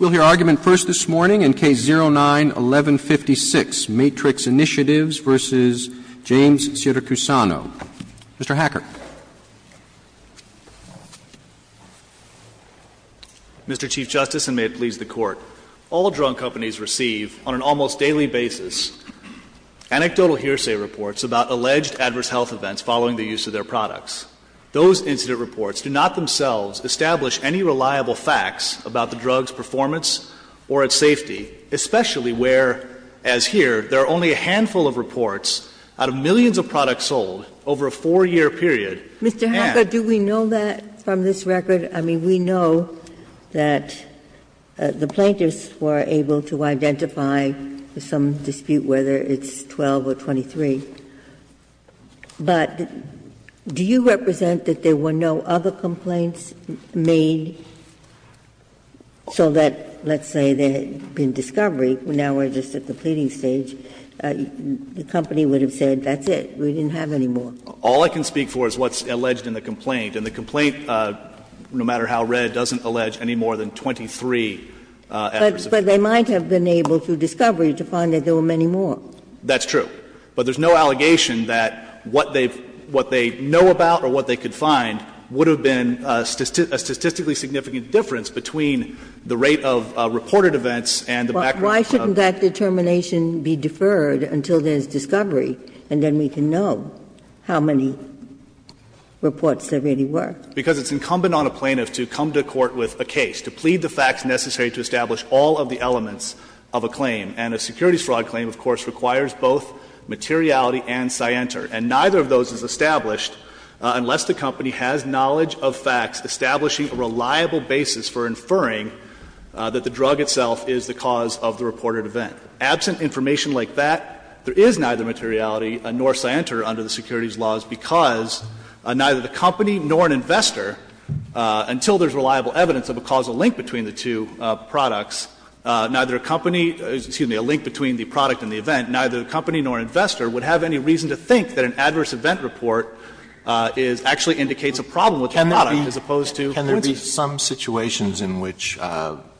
We'll hear argument first this morning in Case 09-1156, Matrix Initiatives v. James Siracusano. Mr. Hacker. Mr. Chief Justice, and may it please the Court, all drug companies receive, on an almost daily basis, anecdotal hearsay reports about alleged adverse health events following the use of their products. Those incident reports do not themselves establish any reliable facts about the drug's performance or its safety, especially where, as here, there are only a handful of reports out of millions of products sold over a 4-year period and Mr. Hacker, do we know that from this record? I mean, we know that the plaintiffs were able to identify some dispute, whether it's 12 or 23, but do you represent that there were no other complaints made so that, let's say, there had been discovery, now we're just at the pleading stage, the company would have said, that's it, we didn't have any more? All I can speak for is what's alleged in the complaint. And the complaint, no matter how red, doesn't allege any more than 23 adverse events. But they might have been able, through discovery, to find that there were many more. That's true. But there's no allegation that what they've – what they know about or what they could find would have been a statistically significant difference between the rate of reported events and the background. Why shouldn't that determination be deferred until there's discovery, and then we can know how many reports there really were? Because it's incumbent on a plaintiff to come to court with a case, to plead the facts necessary to establish all of the elements of a claim. And a securities fraud claim, of course, requires both materiality and scienter. And neither of those is established unless the company has knowledge of facts establishing a reliable basis for inferring that the drug itself is the cause of the reported event. Absent information like that, there is neither materiality nor scienter under the securities laws because neither the company nor an investor, until there's reliable evidence of a causal link between the two products, neither a company, excuse me, a link between the product and the event, neither the company nor an investor would have any reason to think that an adverse event report is – actually indicates a problem with the product as opposed to cancer. Alitoso Can there be some situations in which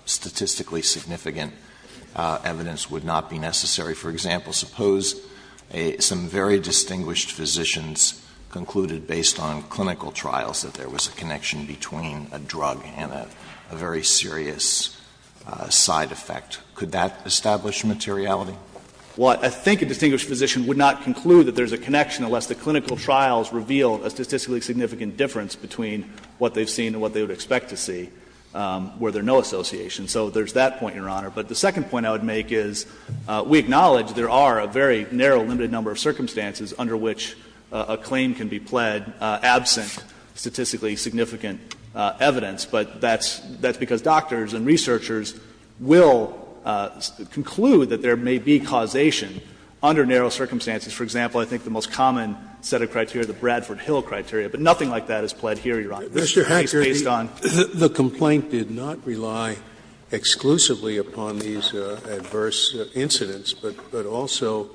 statistically significant evidence would not be necessary? For example, suppose some very distinguished physicians concluded based on clinical trials that there was a connection between a drug and a very serious side effect. Could that establish materiality? Well, I think a distinguished physician would not conclude that there's a connection unless the clinical trials reveal a statistically significant difference between what they've seen and what they would expect to see where there's no association. So there's that point, Your Honor. But the second point I would make is we acknowledge there are a very narrow, limited number of circumstances under which a claim can be pled absent statistically significant evidence. But that's because doctors and researchers will conclude that there may be causation under narrow circumstances. For example, I think the most common set of criteria, the Bradford Hill criteria, but nothing like that is pled here, Your Honor. Scalia's case based on the complaint did not rely exclusively upon these adverse incidents, but also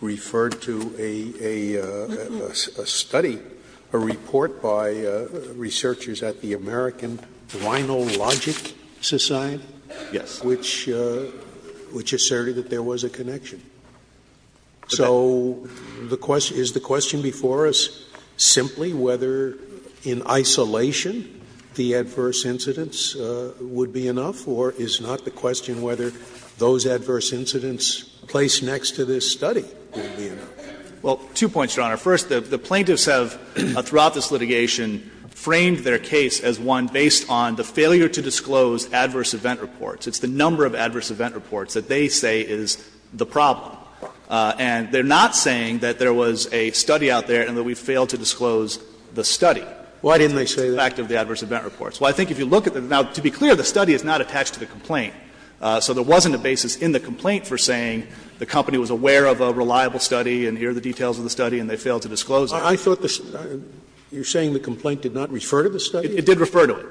referred to a study, a report by researchers at the American Rhinologic Society, which asserted that there was a connection. So the question — is the question before us simply whether in isolation the adverse incidents would be enough, or is not the question whether those adverse incidents placed next to this study would be enough? Well, two points, Your Honor. First, the plaintiffs have, throughout this litigation, framed their case as one based on the failure to disclose adverse event reports. It's the number of adverse event reports that they say is the problem. And they're not saying that there was a study out there and that we failed to disclose the study. Why didn't they say that? Well, I think if you look at the — now, to be clear, the study is not attached to the complaint. So there wasn't a basis in the complaint for saying the company was aware of a reliable study and here are the details of the study and they failed to disclose it. I thought the — you're saying the complaint did not refer to the study? It did refer to it.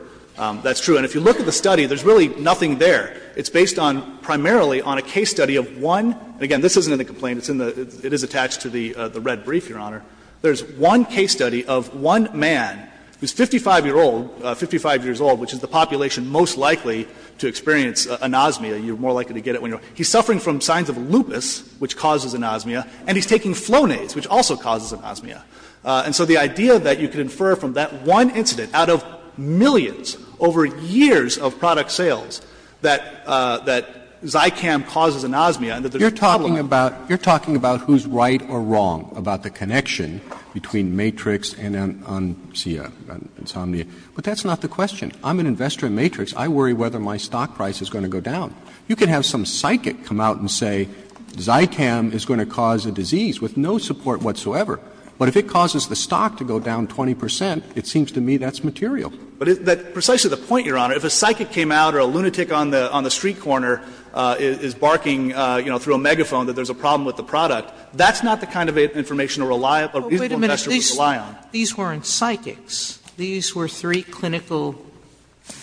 That's true. And if you look at the study, there's really nothing there. It's based on — primarily on a case study of one — and again, this isn't in the complaint. It's in the — it is attached to the red brief, Your Honor. There's one case study of one man who's 55-year-old, 55 years old, which is the population most likely to experience anosmia. You're more likely to get it when you're — he's suffering from signs of lupus, which causes anosmia, and he's taking Flonase, which also causes anosmia. And so the idea that you could infer from that one incident out of millions over years of product sales that — that Zycam causes anosmia and that there's a problem. You're talking about — you're talking about who's right or wrong about the connection between Matrix and An — An — see, Insomnia. But that's not the question. I'm an investor in Matrix. I worry whether my stock price is going to go down. You could have some psychic come out and say Zycam is going to cause a disease with no support whatsoever. But if it causes the stock to go down 20 percent, it seems to me that's material. But it — that's precisely the point, Your Honor. If a psychic came out or a lunatic on the — on the street corner is barking, you know, through a megaphone that there's a problem with the product, that's not the kind of information a reliable — a reasonable investor would rely on. These weren't psychics. These were three clinical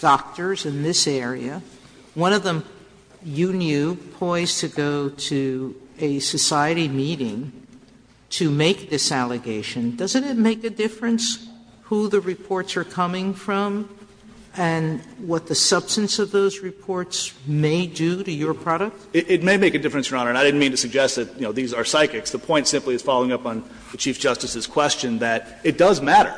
doctors in this area. One of them, you knew, poised to go to a society meeting to make this allegation. Doesn't it make a difference who the reports are coming from and what the substance of those reports may do to your product? It may make a difference, Your Honor. And I didn't mean to suggest that, you know, these are psychics. The point simply is, following up on the Chief Justice's question, that it does matter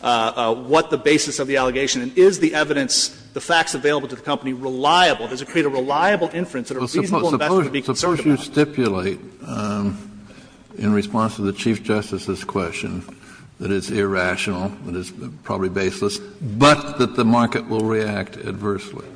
what the basis of the allegation is. Is the evidence, the facts available to the company, reliable? Does it create a reliable inference that a reasonable investor would be concerned about? Kennedy, in response to the Chief Justice's question, that it's irrational, that it's probably baseless, but that the market will react adversely.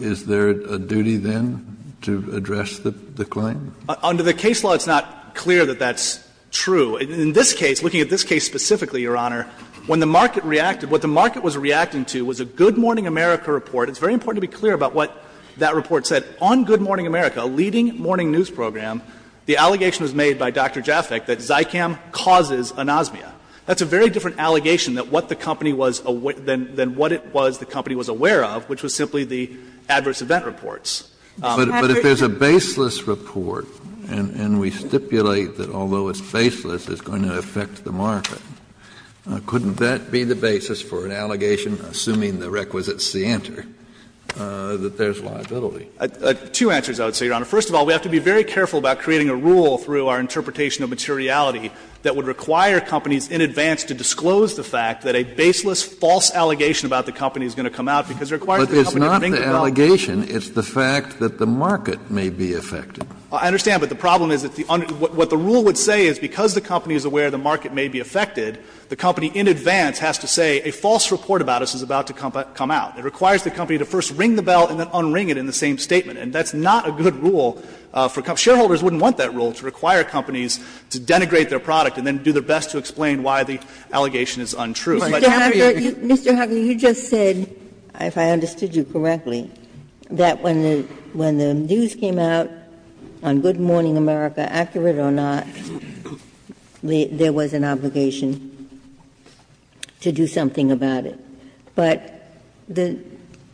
Is there a duty then to address the claim? Under the case law, it's not clear that that's true. In this case, looking at this case specifically, Your Honor, when the market reacted, what the market was reacting to was a Good Morning America report. It's very important to be clear about what that report said. On Good Morning America, a leading morning news program, the allegation was made by Dr. Jaffeck that Zykam causes anosmia. That's a very different allegation than what the company was aware of, which was simply Kennedy, in response to the Chief Justice's question, that it does matter what the basis of the allegation is. If there's a basis for an allegation, assuming the requisite is the answer, that there's liability. Two answers, I would say, Your Honor. First of all, we have to be very careful about creating a rule through our interpretation of materiality that would require companies in advance to disclose the fact that a baseless, false allegation about the company is going to come out because it requires the company to bring to the table. But it's not the allegation, it's the fact that the market may be affected. I understand, but the problem is that what the rule would say is because the company is aware the market may be affected, the company in advance has to say a false report about us is about to come out. It requires the company to first ring the bell and then unring it in the same statement. And that's not a good rule for companies. Shareholders wouldn't want that rule to require companies to denigrate their product and then do their best to explain why the allegation is untrue. But Jaffeck, you just said, if I understood you correctly, that when the news came out on Good Morning America, accurate or not, there was an obligation to do something about it. But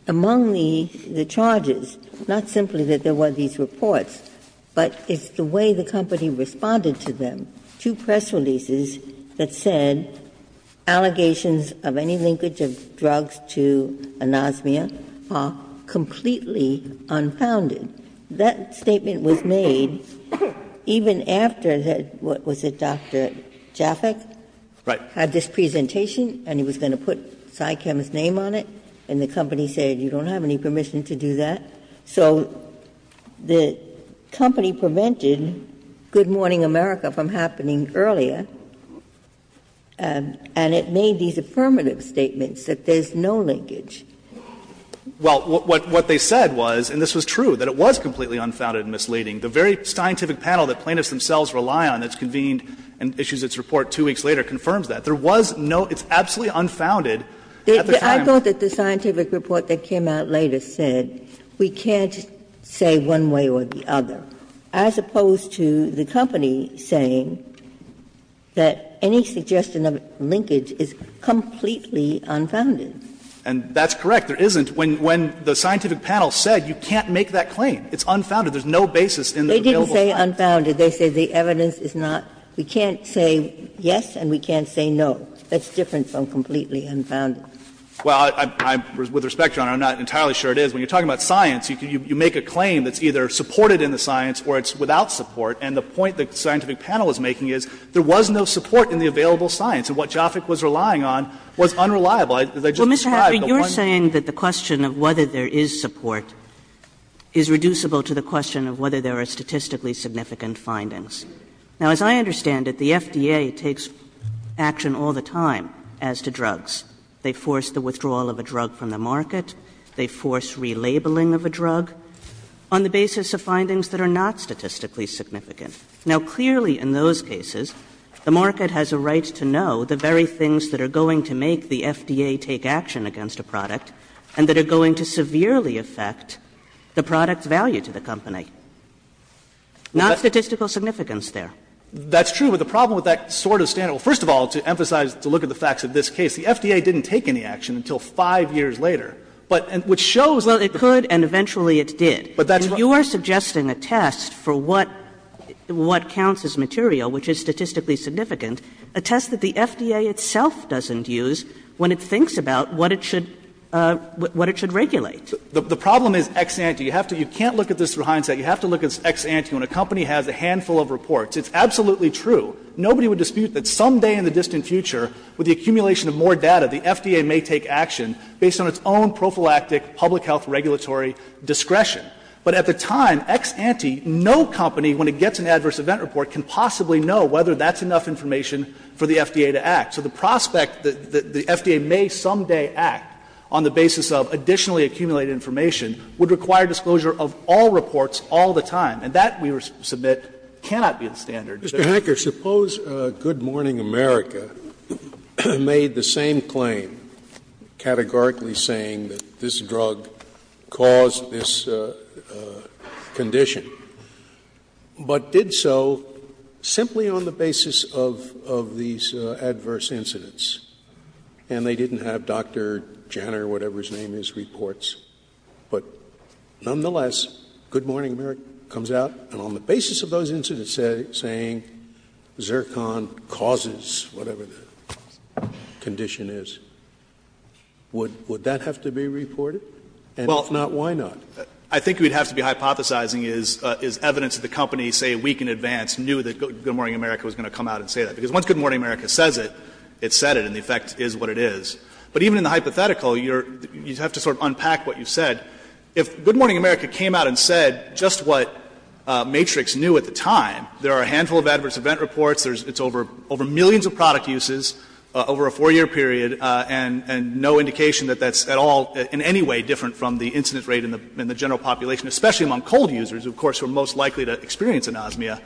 among the charges, not simply that there were these reports, but it's the way the company responded to them, two press releases that said allegations of any linkage of drugs to anosmia are completely unfounded. That statement was made even after the, what was it, Dr. Jaffeck had this presentation and he was going to put CyChem's name on it, and the company said, you don't have any permission to do that. So the company prevented Good Morning America from happening earlier, and it made these affirmative statements that there's no linkage. Well, what they said was, and this was true, that it was completely unfounded and misleading. The very scientific panel that plaintiffs themselves rely on that's convened and issues its report two weeks later confirms that. There was no, it's absolutely unfounded at the time. I thought that the scientific report that came out later said, we can't say one way or the other, as opposed to the company saying that any suggestion of linkage is completely unfounded. And that's correct. There isn't. When the scientific panel said, you can't make that claim. It's unfounded. There's no basis in the available science. They didn't say unfounded. They said the evidence is not, we can't say yes and we can't say no. That's different from completely unfounded. Well, I, with respect, Your Honor, I'm not entirely sure it is. When you're talking about science, you make a claim that's either supported in the science or it's without support. And the point the scientific panel is making is there was no support in the available science, and what Jaffeck was relying on was unreliable. As I just described, the one you're saying that the question of whether there is support is reducible to the question of whether there are statistically significant findings. Now, as I understand it, the FDA takes action all the time as to drugs. They force the withdrawal of a drug from the market. They force relabeling of a drug on the basis of findings that are not statistically significant. Now, clearly, in those cases, the market has a right to know the very things that are going to make the FDA take action against a product and that are going to severely affect the product's value to the company, not statistical significance there. That's true, but the problem with that sort of standard, well, first of all, to emphasize to look at the facts of this case, the FDA didn't take any action until 5 years later. But what shows that the fact is that the market has a right to know the very things there. I'm not saying that the FDA should take action, but the FDA has a right to know the very things that are in the FDA's hands and use when it thinks about what it should regulate. The problem is ex ante. You have to you can't look at this through hindsight. You have to look at ex ante when a company has a handful of reports. It's absolutely true. Nobody would dispute that someday in the distant future with the accumulation of more data, the FDA may take action based on its own prophylactic public health regulatory discretion. But at the time, ex ante, no company, when it gets an adverse event report, can possibly know whether that's enough information for the FDA to act. So the prospect that the FDA may someday act on the basis of additionally accumulated information would require disclosure of all reports all the time. And that, we submit, cannot be the standard. Scalia. Mr. Hacker, suppose Good Morning America made the same claim, categorically saying that this drug caused this condition, but did so simply on the basis of these adverse incidents, and they didn't have Dr. Janner, whatever his name is, reports. But nonetheless, Good Morning America comes out, and on the basis of those incidents, saying Zircon causes whatever the condition is. Would that have to be reported? And if not, why not? I think we'd have to be hypothesizing is evidence that the company, say, a week in advance, knew that Good Morning America was going to come out and say that. Because once Good Morning America says it, it said it, and the effect is what it is. But even in the hypothetical, you have to sort of unpack what you said. If Good Morning America came out and said just what Matrix knew at the time, there are a handful of adverse event reports, it's over millions of product uses over a 4-year period, and no indication that that's at all in any way different from the incident rate in the general population, especially among cold users, of course, who are most likely to experience anosmia,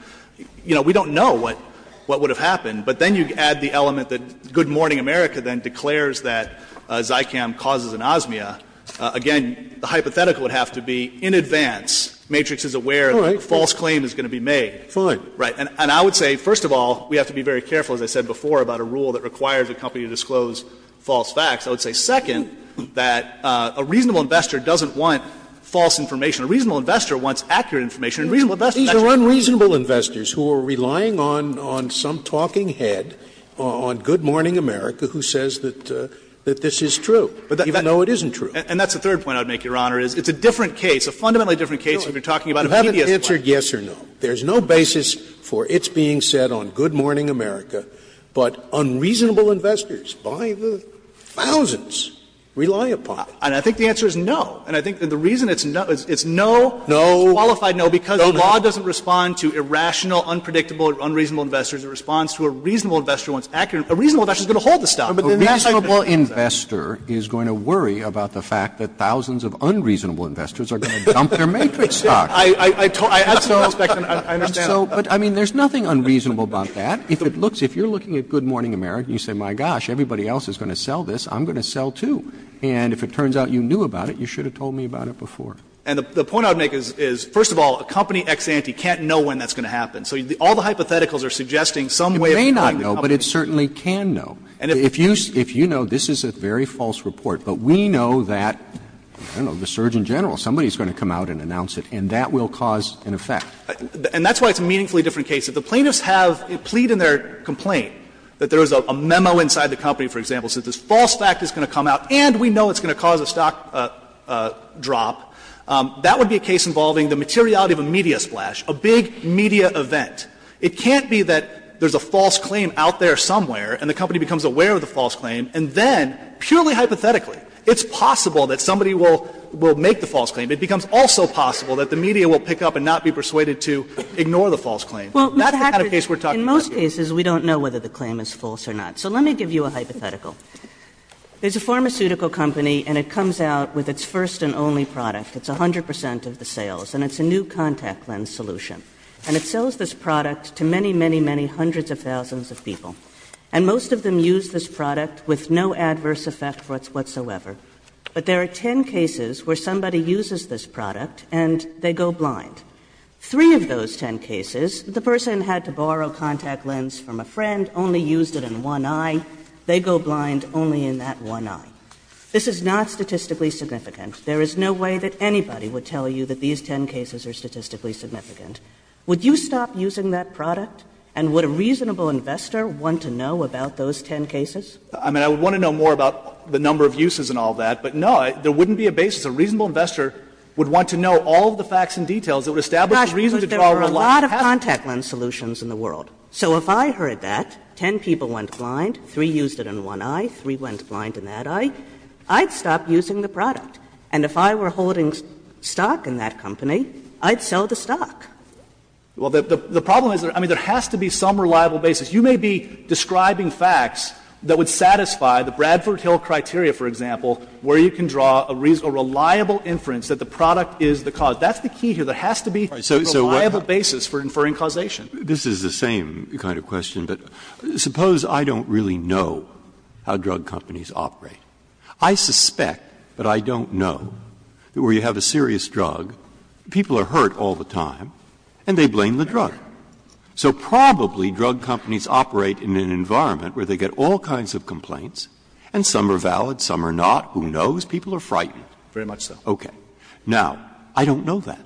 you know, we don't know what would have happened. But then you add the element that Good Morning America then declares that Zicam causes anosmia. Again, the hypothetical would have to be in advance, Matrix is aware that a false claim is going to be made. Scalia. Fine. And I would say, first of all, we have to be very careful, as I said before, about a rule that requires a company to disclose false facts. I would say, second, that a reasonable investor doesn't want false information. A reasonable investor wants accurate information. And reasonable investors actually don't. Scalia. These are unreasonable investors who are relying on some talking head on Good Morning America who says that this is true, even though it isn't true. And that's the third point I would make, Your Honor, is it's a different case, a fundamentally different case if you're talking about a media sponsor. You haven't answered yes or no. There's no basis for it being said on Good Morning America, but unreasonable investors by the thousands rely upon it. And I think the answer is no. And I think the reason it's no is it's no qualified no, because the law doesn't respond to irrational, unpredictable, unreasonable investors. It responds to a reasonable investor wants accurate information. A reasonable investor is going to hold the stock. But then the fact that it's not going to hold the stock. But a reasonable investor is going to worry about the fact that thousands of unreasonable investors are going to dump their Matrix stock. I totally respect and I understand that. Roberts, but I mean, there's nothing unreasonable about that. If it looks, if you're looking at Good Morning America and you say, my gosh, everybody else is going to sell this, I'm going to sell, too. And if it turns out you knew about it, you should have told me about it before. And the point I would make is, first of all, a company ex ante can't know when that's going to happen. So all the hypotheticals are suggesting some way of telling the company. It may not know, but it certainly can know. And if you know, this is a very false report. But we know that, I don't know, the Surgeon General, somebody is going to come out and announce it, and that will cause an effect. And that's why it's a meaningfully different case. If the plaintiffs have, plead in their complaint that there is a memo inside the company, for example, says this false fact is going to come out and we know it's going to cause a stock drop, that would be a case involving the materiality of a media splash, a big media event. It can't be that there's a false claim out there somewhere and the company becomes aware of the false claim, and then, purely hypothetically, it's possible that somebody will make the false claim. It becomes also possible that the media will pick up and not be persuaded to ignore the false claim. That's the kind of case we're talking about here. Kagan in most cases we don't know whether the claim is false or not. So let me give you a hypothetical. There's a pharmaceutical company and it comes out with its first and only product. It's 100 percent of the sales. And it's a new contact lens solution. And it sells this product to many, many, many hundreds of thousands of people. And most of them use this product with no adverse effect whatsoever. But there are 10 cases where somebody uses this product and they go blind. Three of those 10 cases, the person had to borrow contact lens from a friend, only used it in one eye. They go blind only in that one eye. This is not statistically significant. There is no way that anybody would tell you that these 10 cases are statistically significant. Would you stop using that product? And would a reasonable investor want to know about those 10 cases? I mean, I would want to know more about the number of uses and all that. But, no, there wouldn't be a basis. A reasonable investor would want to know all of the facts and details that would establish a reason to draw a line. Kagan in most cases we don't know whether the claim is false or not. But there are a lot of contact lens solutions in the world. So if I heard that, 10 people went blind, three used it in one eye, three went blind in that eye, I'd stop using the product. And if I were holding stock in that company, I'd sell the stock. Well, the problem is, I mean, there has to be some reliable basis. You may be describing facts that would satisfy the Bradford Hill criteria, for example, where you can draw a reasonable, reliable inference that the product is the cause. That's the key here. There has to be a reliable basis for inferring causation. Breyer, this is the same kind of question, but suppose I don't really know how drug companies operate. I suspect, but I don't know, that where you have a serious drug, people are hurt all the time and they blame the drug. So probably drug companies operate in an environment where they get all kinds of complaints and some are valid, some are not. Who knows? People are frightened. Very much so. Okay. Now, I don't know that.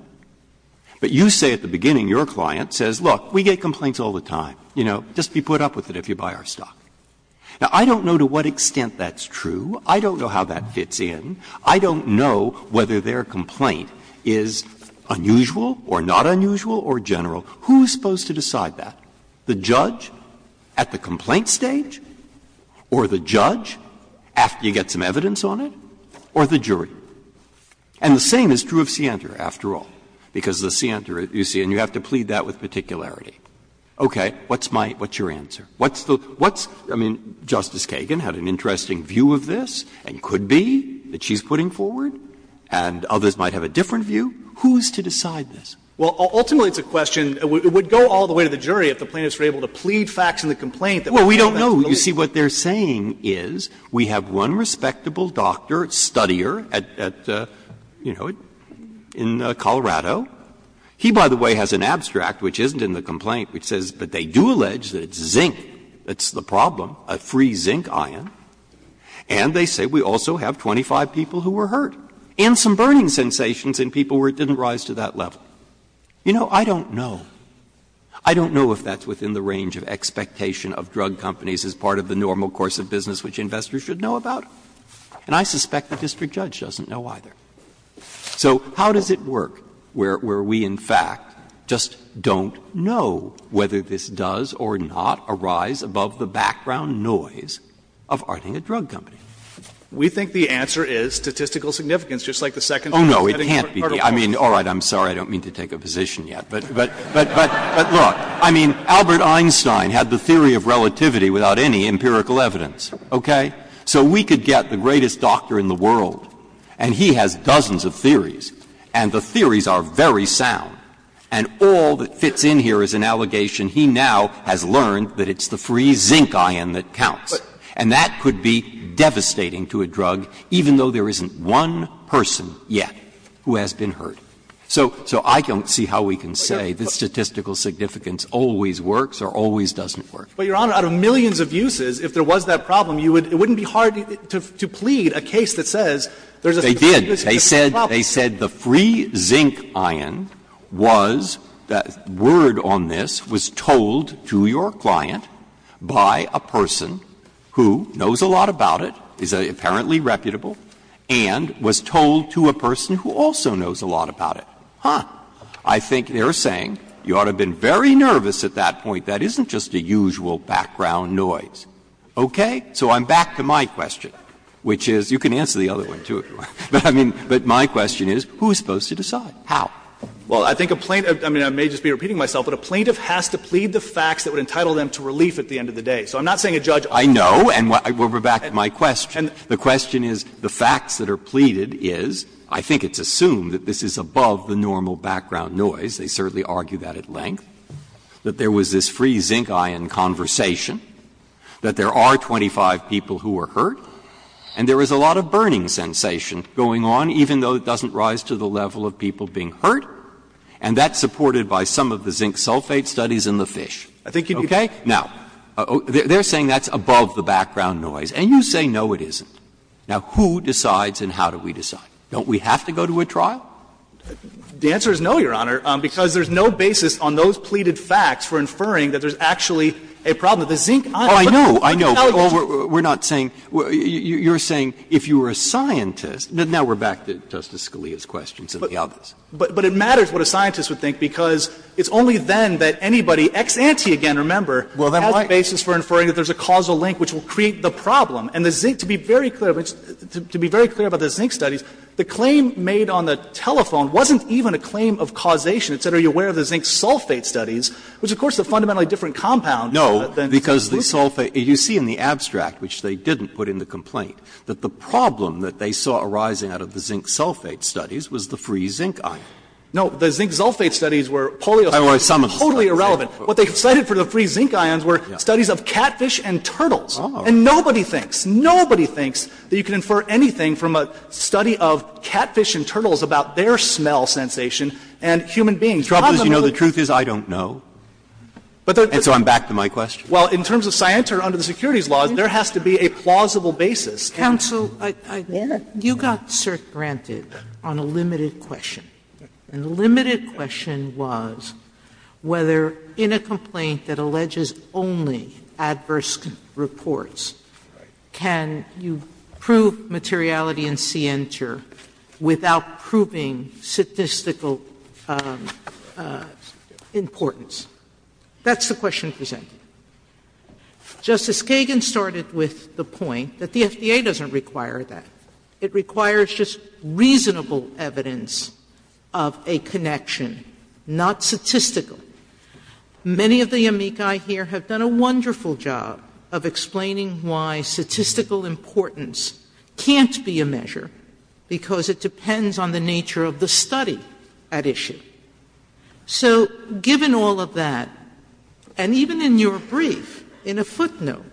But you say at the beginning, your client says, look, we get complaints all the time. You know, just be put up with it if you buy our stock. Now, I don't know to what extent that's true. I don't know how that fits in. I don't know whether their complaint is unusual or not unusual or general. Who is supposed to decide that, the judge at the complaint stage or the judge after you get some evidence on it or the jury? And the same is true of Sienta, after all, because the Sienta, you see, and you have to plead that with particularity. Okay. What's my – what's your answer? What's the – what's – I mean, Justice Kagan had an interesting view of this and could be that she's putting forward, and others might have a different view. Who is to decide this? Well, ultimately, it's a question – it would go all the way to the jury if the plaintiffs were able to plead facts in the complaint that we have at the moment. Breyer. Well, we don't know. You see, what they're saying is we have one respectable doctor, studier, at, you know, in Colorado. He, by the way, has an abstract, which isn't in the complaint, which says, but they do allege that it's zinc that's the problem, a free zinc ion, and they say we also have 25 people who were hurt and some burning sensations in people where it didn't arise to that level. You know, I don't know. I don't know if that's within the range of expectation of drug companies as part of the normal course of business which investors should know about, and I suspect the district judge doesn't know either. So how does it work where we, in fact, just don't know whether this does or not arise above the background noise of arting a drug company? We think the answer is statistical significance, just like the second part of the case. Oh, no, it can't be. I mean, all right, I'm sorry, I don't mean to take a position yet, but look, I mean, Albert Einstein had the theory of relativity without any empirical evidence, okay? So we could get the greatest doctor in the world, and he has dozens of theories, and the theories are very sound, and all that fits in here is an allegation he now has learned that it's the free zinc ion that counts. And that could be devastating to a drug, even though there isn't one person yet who has been hurt. So I don't see how we can say the statistical significance always works or always doesn't work. But, Your Honor, out of millions of uses, if there was that problem, it wouldn't be hard to plead a case that says there's a statistical significance problem. They did. They said the free zinc ion was, word on this, was told to your client by a person who knows a lot about it, is apparently reputable, and was told to a person who also knows a lot about it. Huh. I think they're saying you ought to have been very nervous at that point. That isn't just a usual background noise. Okay? So I'm back to my question, which is you can answer the other one, too, if you want. But, I mean, but my question is who is supposed to decide? How? Well, I think a plaintiff – I mean, I may just be repeating myself, but a plaintiff has to plead the facts that would entitle them to relief at the end of the day. So I'm not saying a judge ought to. I know, and we're back to my question. The question is, the facts that are pleaded is, I think it's assumed that this is above the normal background noise. They certainly argue that at length, that there was this free zinc ion conversation, that there are 25 people who were hurt, and there is a lot of burning sensation going on, even though it doesn't rise to the level of people being hurt, and that's supported by some of the zinc sulfate studies in the Fish. Okay? Now, they're saying that's above the background noise. And you say, no, it isn't. Now, who decides and how do we decide? Don't we have to go to a trial? The answer is no, Your Honor, because there's no basis on those pleaded facts for inferring that there's actually a problem with the zinc ion. But the analogy is that's above the background noise. Breyer, you're saying if you were a scientist – now, we're back to Justice Scalia's questions and the others. But it matters what a scientist would think, because it's only then that anybody ex-ante again, remember, has a basis for inferring that there's a causal link which will create the problem. And the zinc, to be very clear, to be very clear about the zinc studies, the claim made on the telephone wasn't even a claim of causation. It said, are you aware of the zinc sulfate studies, which, of course, is a fundamentally different compound than the solution. Breyer, you see in the abstract, which they didn't put in the complaint, that the problem that they saw arising out of the zinc sulfate studies was the free zinc ion. No. The zinc sulfate studies were polio studies, totally irrelevant. What they cited for the free zinc ions were studies of catfish and turtles. And nobody thinks, nobody thinks that you can infer anything from a study of catfish and turtles about their smell sensation and human beings. The problem is, you know, the truth is I don't know. And so I'm back to my question. Well, in terms of scienter under the securities laws, there has to be a plausible basis. Sotomayor, you got cert granted on a limited question. And the limited question was whether in a complaint that alleges only adverse reports, can you prove materiality and scienter without proving statistical importance? That's the question presented. Justice Kagan started with the point that the FDA doesn't require that. It requires just reasonable evidence of a connection, not statistical. Many of the amici here have done a wonderful job of explaining why statistical importance can't be a measure, because it depends on the nature of the study at issue. So given all of that, and even in your brief, in a footnote,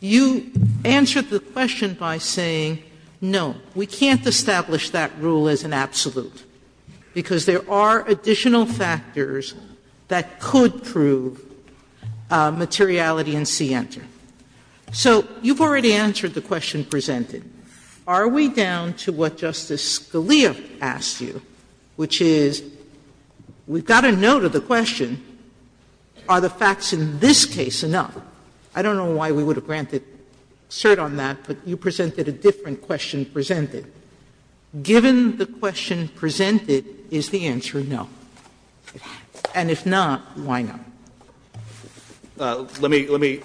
you answered the question by saying, no, we can't establish that rule as an absolute, because there are additional factors that could prove materiality and scienter. So you've already answered the question presented. Are we down to what Justice Scalia asked you, which is, we've got a note of the question, are the facts in this case enough? I don't know why we would have granted cert on that, but you presented a different question presented. Given the question presented, is the answer no? And if not, why not? Let me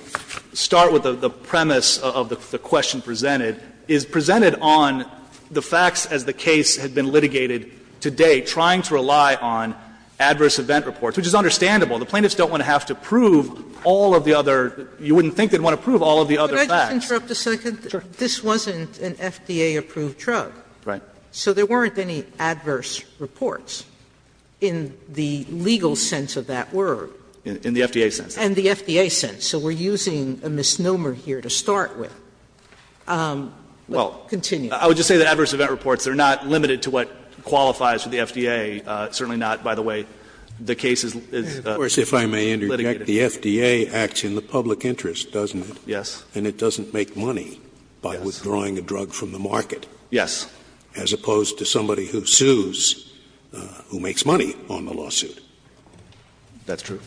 start with the premise of the question presented. It's presented on the facts as the case had been litigated to date, trying to rely on adverse event reports, which is understandable. The plaintiffs don't want to have to prove all of the other — you wouldn't think they'd want to prove all of the other facts. Sotomayor, this wasn't an FDA-approved drug. Right. So there weren't any adverse reports in the legal sense of that word. In the FDA sense. In the FDA sense. So we're using a misnomer here to start with. Well, I would just say that adverse event reports are not limited to what qualifies for the FDA, certainly not, by the way, the case is litigated. Scalia, if I may interject, the FDA acts in the public interest, doesn't it? Yes. And it doesn't make money by withdrawing a drug from the market. Yes. As opposed to somebody who sues, who makes money on the lawsuit. That's true.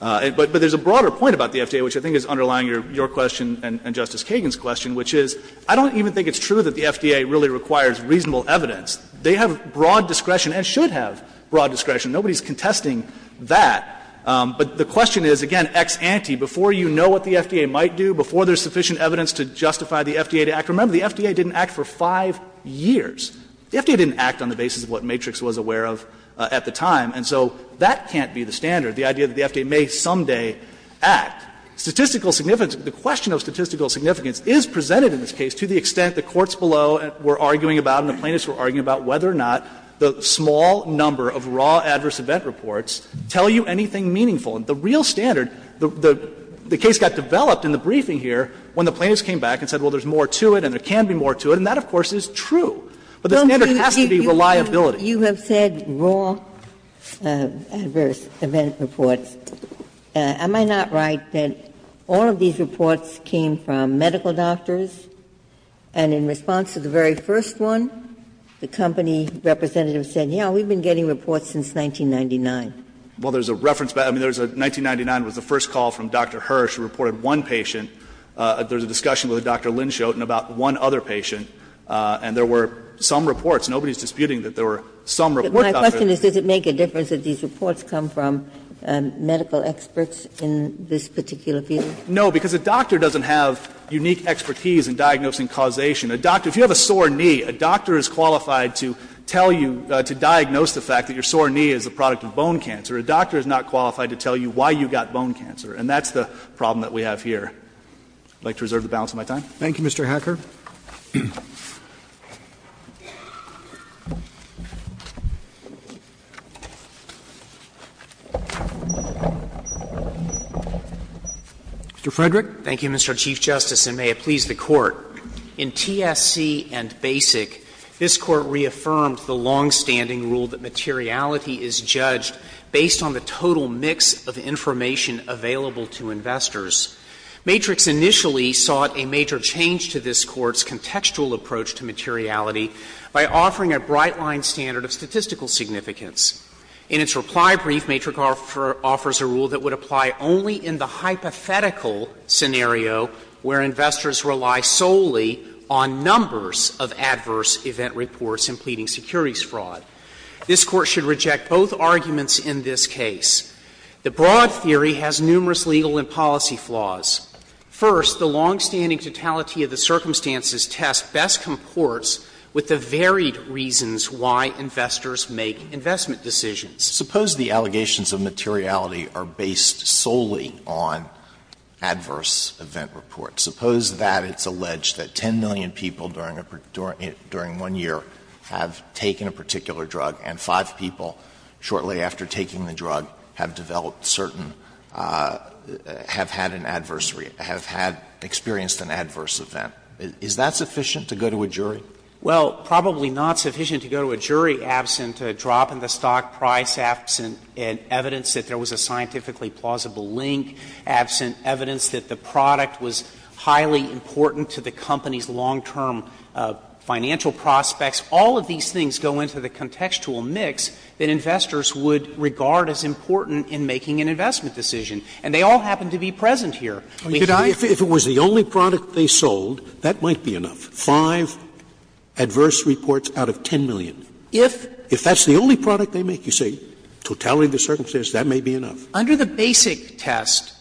But there's a broader point about the FDA, which I think is underlying your question and Justice Kagan's question, which is I don't even think it's true that the FDA really requires reasonable evidence. They have broad discretion and should have broad discretion. Nobody's contesting that. But the question is, again, ex ante, before you know what the FDA might do, before there's sufficient evidence to justify the FDA to act, remember, the FDA didn't act for five years. The FDA didn't act on the basis of what Matrix was aware of at the time. And so that can't be the standard, the idea that the FDA may someday act. Statistical significance, the question of statistical significance is presented in this case to the extent the courts below were arguing about and the plaintiffs were arguing about whether or not the small number of raw adverse event reports tell you anything meaningful. And the real standard, the case got developed in the briefing here when the plaintiffs came back and said, well, there's more to it and there can be more to it, and that, of course, is true. But the standard has to be reliability. Ginsburg. You have said raw adverse event reports. Am I not right that all of these reports came from medical doctors? And in response to the very first one, the company representative said, yes, we've been getting reports since 1999. Well, there's a reference back. I mean, there's a 1999 was the first call from Dr. Hirsch who reported one patient. There's a discussion with Dr. Lindschoten about one other patient, and there were some reports. Nobody is disputing that there were some reports. My question is, does it make a difference that these reports come from medical experts in this particular field? No, because a doctor doesn't have unique expertise in diagnosing causation. A doctor, if you have a sore knee, a doctor is qualified to tell you, to diagnose the fact that your sore knee is the product of bone cancer. A doctor is not qualified to tell you why you got bone cancer. And that's the problem that we have here. I'd like to reserve the balance of my time. Roberts. Thank you, Mr. Hacker. Mr. Frederick. Thank you, Mr. Chief Justice, and may it please the Court. In TSC and BASIC, this Court reaffirmed the longstanding rule that materiality is judged based on the total mix of information available to investors. Matrix initially sought a major change to this Court's contextual approach to materiality by offering a bright-line standard of statistical significance. In its reply brief, Matrix offers a rule that would apply only in the hypothetical scenario where investors rely solely on numbers of adverse event reports in pleading securities fraud. This Court should reject both arguments in this case. The broad theory has numerous legal and policy flaws. First, the longstanding totality of the circumstances test best comports with the varied reasons why investors make investment decisions. Suppose the allegations of materiality are based solely on adverse event reports. Suppose that it's alleged that 10 million people during one year have taken a particular drug and 5 people shortly after taking the drug have developed certain, have had an adversary, have had experienced an adverse event. Is that sufficient to go to a jury? Well, probably not sufficient to go to a jury absent a drop in the stock price, absent evidence that there was a scientifically plausible link, absent evidence that the product was highly important to the company's long-term financial prospects. All of these things go into the contextual mix that investors would regard as important in making an investment decision. And they all happen to be present here. Scalia. If it was the only product they sold, that might be enough. Five adverse reports out of 10 million. If that's the only product they make, you say totality of the circumstances, that may be enough. Under the basic test,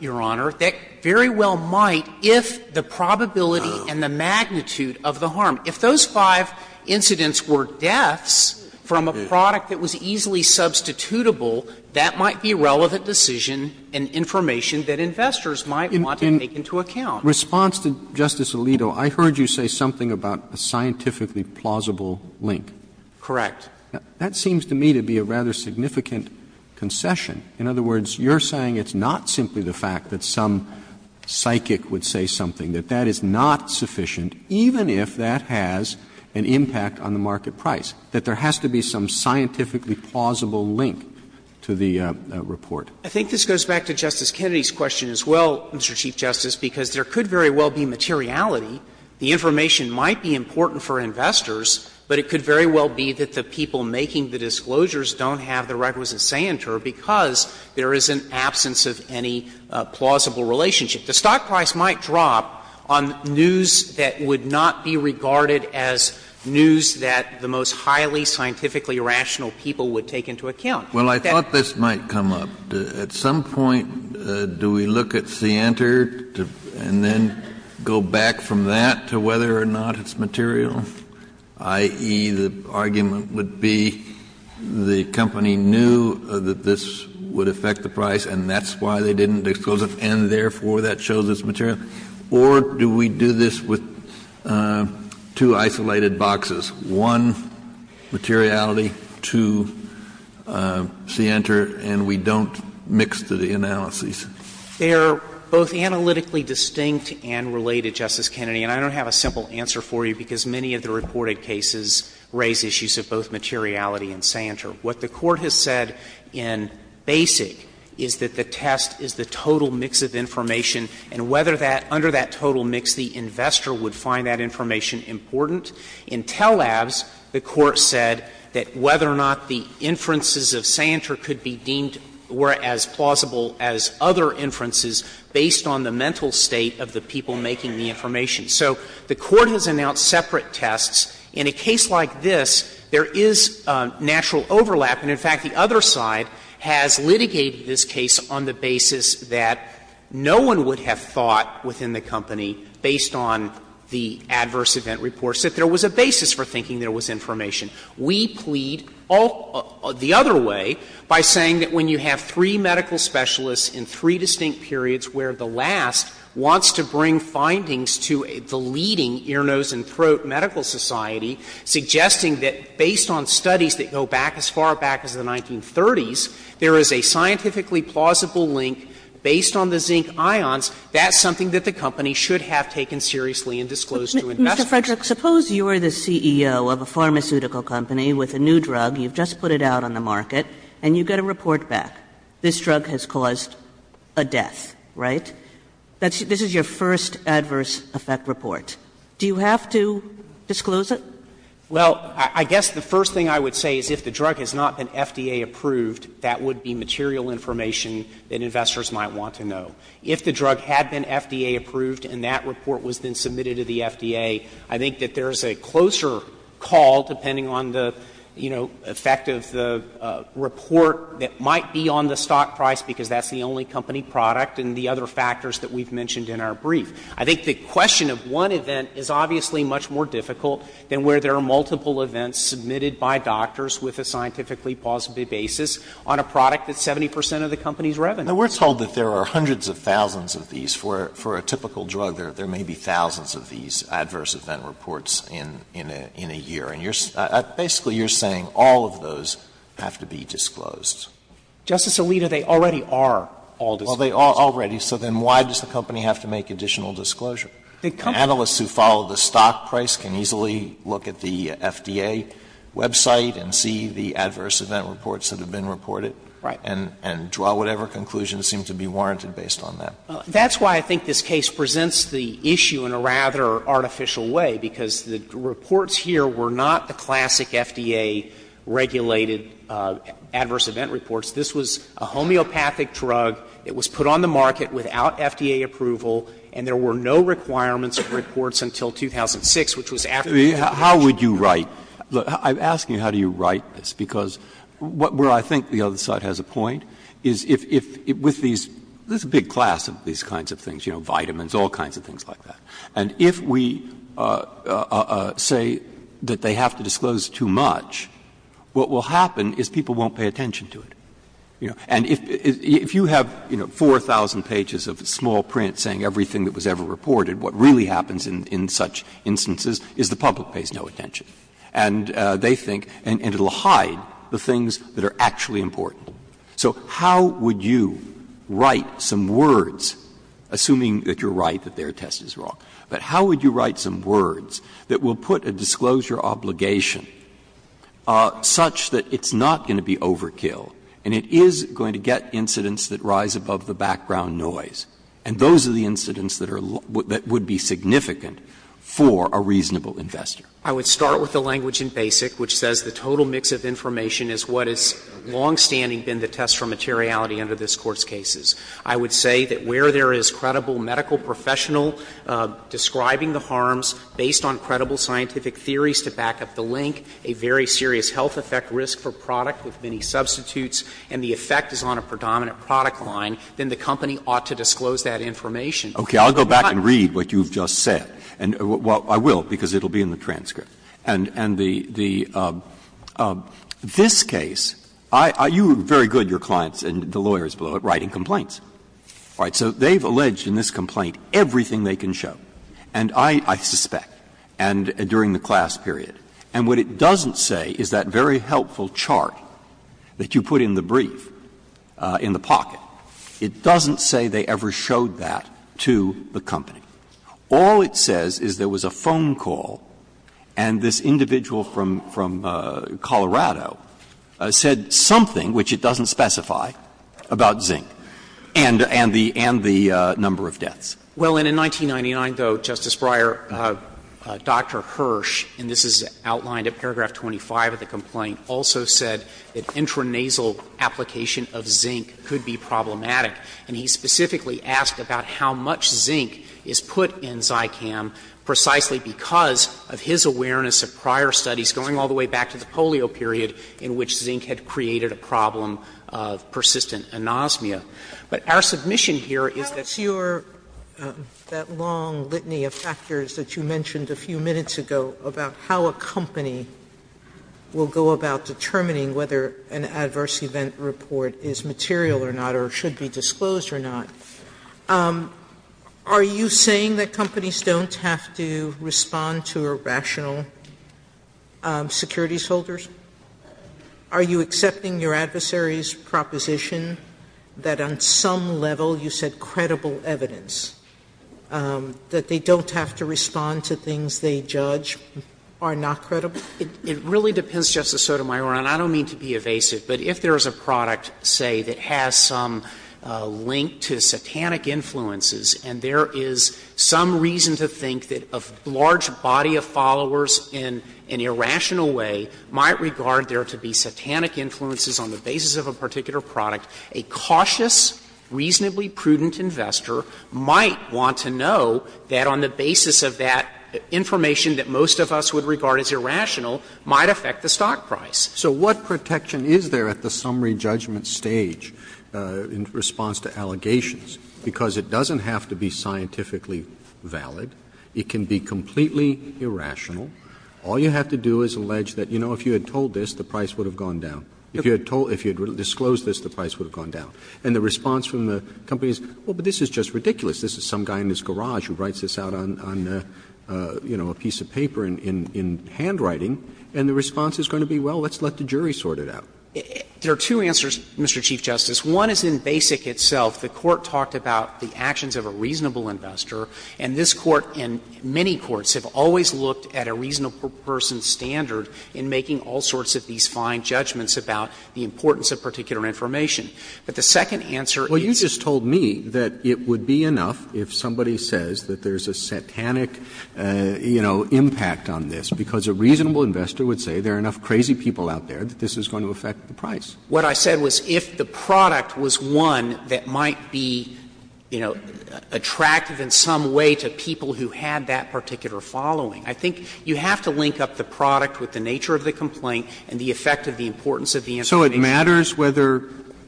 Your Honor, that very well might if the probability and the magnitude of the harm. If those five incidents were deaths from a product that was easily substitutable, that might be a relevant decision and information that investors might want to take into account. In response to Justice Alito, I heard you say something about a scientifically plausible link. Correct. That seems to me to be a rather significant concession. In other words, you're saying it's not simply the fact that some psychic would say something, that that is not sufficient, even if that has an impact on the market price, that there has to be some scientifically plausible link to the report. I think this goes back to Justice Kennedy's question as well, Mr. Chief Justice, because there could very well be materiality. The information might be important for investors, but it could very well be that the people making the disclosures don't have the requisite say in it because there is an absence of any plausible relationship. The stock price might drop on news that would not be regarded as news that the most highly scientifically rational people would take into account. Kennedy, I thought this might come up. At some point, do we look at Center and then go back from that to whether or not it's material, i.e., the argument would be the company knew that this would affect the price and that's why they didn't disclose it and, therefore, that shows it's material? Or do we do this with two isolated boxes, one materiality, two scienter, and we don't mix the analyses? They are both analytically distinct and related, Justice Kennedy, and I don't have a simple answer for you because many of the reported cases raise issues of both materiality and scienter. What the Court has said in Basic is that the test is the total mix of information and whether that, under that total mix, the investor would find that information important. In Tellabs, the Court said that whether or not the inferences of scienter could be deemed were as plausible as other inferences based on the mental state of the people making the information. So the Court has announced separate tests. In a case like this, there is natural overlap and, in fact, the other side has litigated this case on the basis that no one would have thought within the company, based on the adverse event reports, that there was a basis for thinking there was information. We plead the other way by saying that when you have three medical specialists in three distinct periods where the last wants to bring findings to the leading ear, nose, and throat medical society, suggesting that based on studies that go back as far back as the 1930s, there is a scientifically plausible link based on the zinc ions, that's something that the company should have taken seriously and disclosed to investors. Kagan Mr. Frederick, suppose you are the CEO of a pharmaceutical company with a new drug, you've just put it out on the market, and you get a report back, this drug has caused a death, right? This is your first adverse effect report. Do you have to disclose it? Frederick, I guess the first thing I would say is if the drug has not been FDA approved, that would be material information that investors might want to know. If the drug had been FDA approved and that report was then submitted to the FDA, I think that there is a closer call, depending on the, you know, effect of the report that might be on the stock price because that's the only company product and the other factors that we've mentioned in our brief. I think the question of one event is obviously much more difficult than where there are multiple events submitted by doctors with a scientifically plausible basis on a product that's 70 percent of the company's revenue. Alito We're told that there are hundreds of thousands of these. For a typical drug, there may be thousands of these adverse event reports in a year. And basically you're saying all of those have to be disclosed. Frederick Justice Alito, they already are all disclosed. Alito Well, they are already. So then why does the company have to make additional disclosure? Analysts who follow the stock price can easily look at the FDA website and see the adverse event reports that have been reported and draw whatever conclusions seem to be warranted based on that. Frederick That's why I think this case presents the issue in a rather artificial way, because the reports here were not the classic FDA-regulated adverse event reports. This was a homeopathic drug. It was put on the market without FDA approval, and there were no requirements of reports until 2006, which was after the FDA approved it. Breyer How would you write the – I'm asking how do you write this, because where I think the other side has a point is if, with these, there's a big class of these kinds of things, you know, vitamins, all kinds of things like that, and if we say that they have to disclose too much, what will happen is people won't pay attention to it. You know, and if you have, you know, 4,000 pages of small print saying everything that was ever reported, what really happens in such instances is the public pays no attention. And they think – and it will hide the things that are actually important. So how would you write some words, assuming that you're right, that their test is wrong, but how would you write some words that will put a disclosure obligation such that it's not going to be overkill and it is going to get incidents that rise above the background noise, and those are the incidents that are – that would be significant for a reasonable investor? Frederick, I would start with the language in BASIC, which says the total mix of information is what has longstanding been the test for materiality under this Court's cases. I would say that where there is credible medical professional describing the harms based on credible scientific theories to back up the link, a very serious health effect risk for product with many substitutes, and the effect is on a predominant product line, then the company ought to disclose that information. Breyer, I'll go back and read what you've just said. Well, I will, because it will be in the transcript. And the – this case, you are very good, your clients and the lawyers below it, writing complaints. All right. So they've alleged in this complaint everything they can show. And I suspect, and during the class period, and what it doesn't say is that very helpful chart that you put in the brief, in the pocket, it doesn't say they ever showed that to the company. All it says is there was a phone call and this individual from Colorado said something which it doesn't specify about zinc and the number of deaths. Well, and in 1999, though, Justice Breyer, Dr. Hirsch, and this is outlined in paragraph 25 of the complaint, also said that intranasal application of zinc could be problematic. And he specifically asked about how much zinc is put in Zycam precisely because of his awareness of prior studies going all the way back to the polio period in which zinc had created a problem of persistent anosmia. But our submission here is that's your, that long litany of factors that you mentioned a few minutes ago about how a company will go about determining whether an adverse event report is material or not or should be disclosed or not. Are you saying that companies don't have to respond to irrational securities holders? Are you accepting your adversary's proposition that on some level you said credible evidence, that they don't have to respond to things they judge are not credible? It really depends, Justice Sotomayor, and I don't mean to be evasive, but if there is a product, say, that has some link to satanic influences and there is some reason to think that a large body of followers in an irrational way might regard there to be satanic influences on the basis of a particular product, a cautious, reasonably prudent investor might want to know that on the basis of that information that most of us would regard as irrational might affect the stock price. So what protection is there at the summary judgment stage in response to allegations? Because it doesn't have to be scientifically valid. It can be completely irrational. All you have to do is allege that, you know, if you had told this, the price would have gone down. If you had told or disclosed this, the price would have gone down. And the response from the company is, well, but this is just ridiculous. This is some guy in his garage who writes this out on, you know, a piece of paper in handwriting, and the response is going to be, well, let's let the jury sort it out. There are two answers, Mr. Chief Justice. One is in Basic itself. The Court talked about the actions of a reasonable investor, and this Court and many courts have always looked at a reasonable person's standard in making all sorts of these fine judgments about the importance of particular information. But the second answer is the same. Roberts. Well, you just told me that it would be enough if somebody says that there's a satanic, you know, impact on this, because a reasonable investor would say there are enough crazy people out there that this is going to affect the price. What I said was if the product was one that might be, you know, attractive in some way to people who had that particular following, I think you have to link up the product with the nature of the complaint and the effect of the importance of the information. Roberts. So it matters whether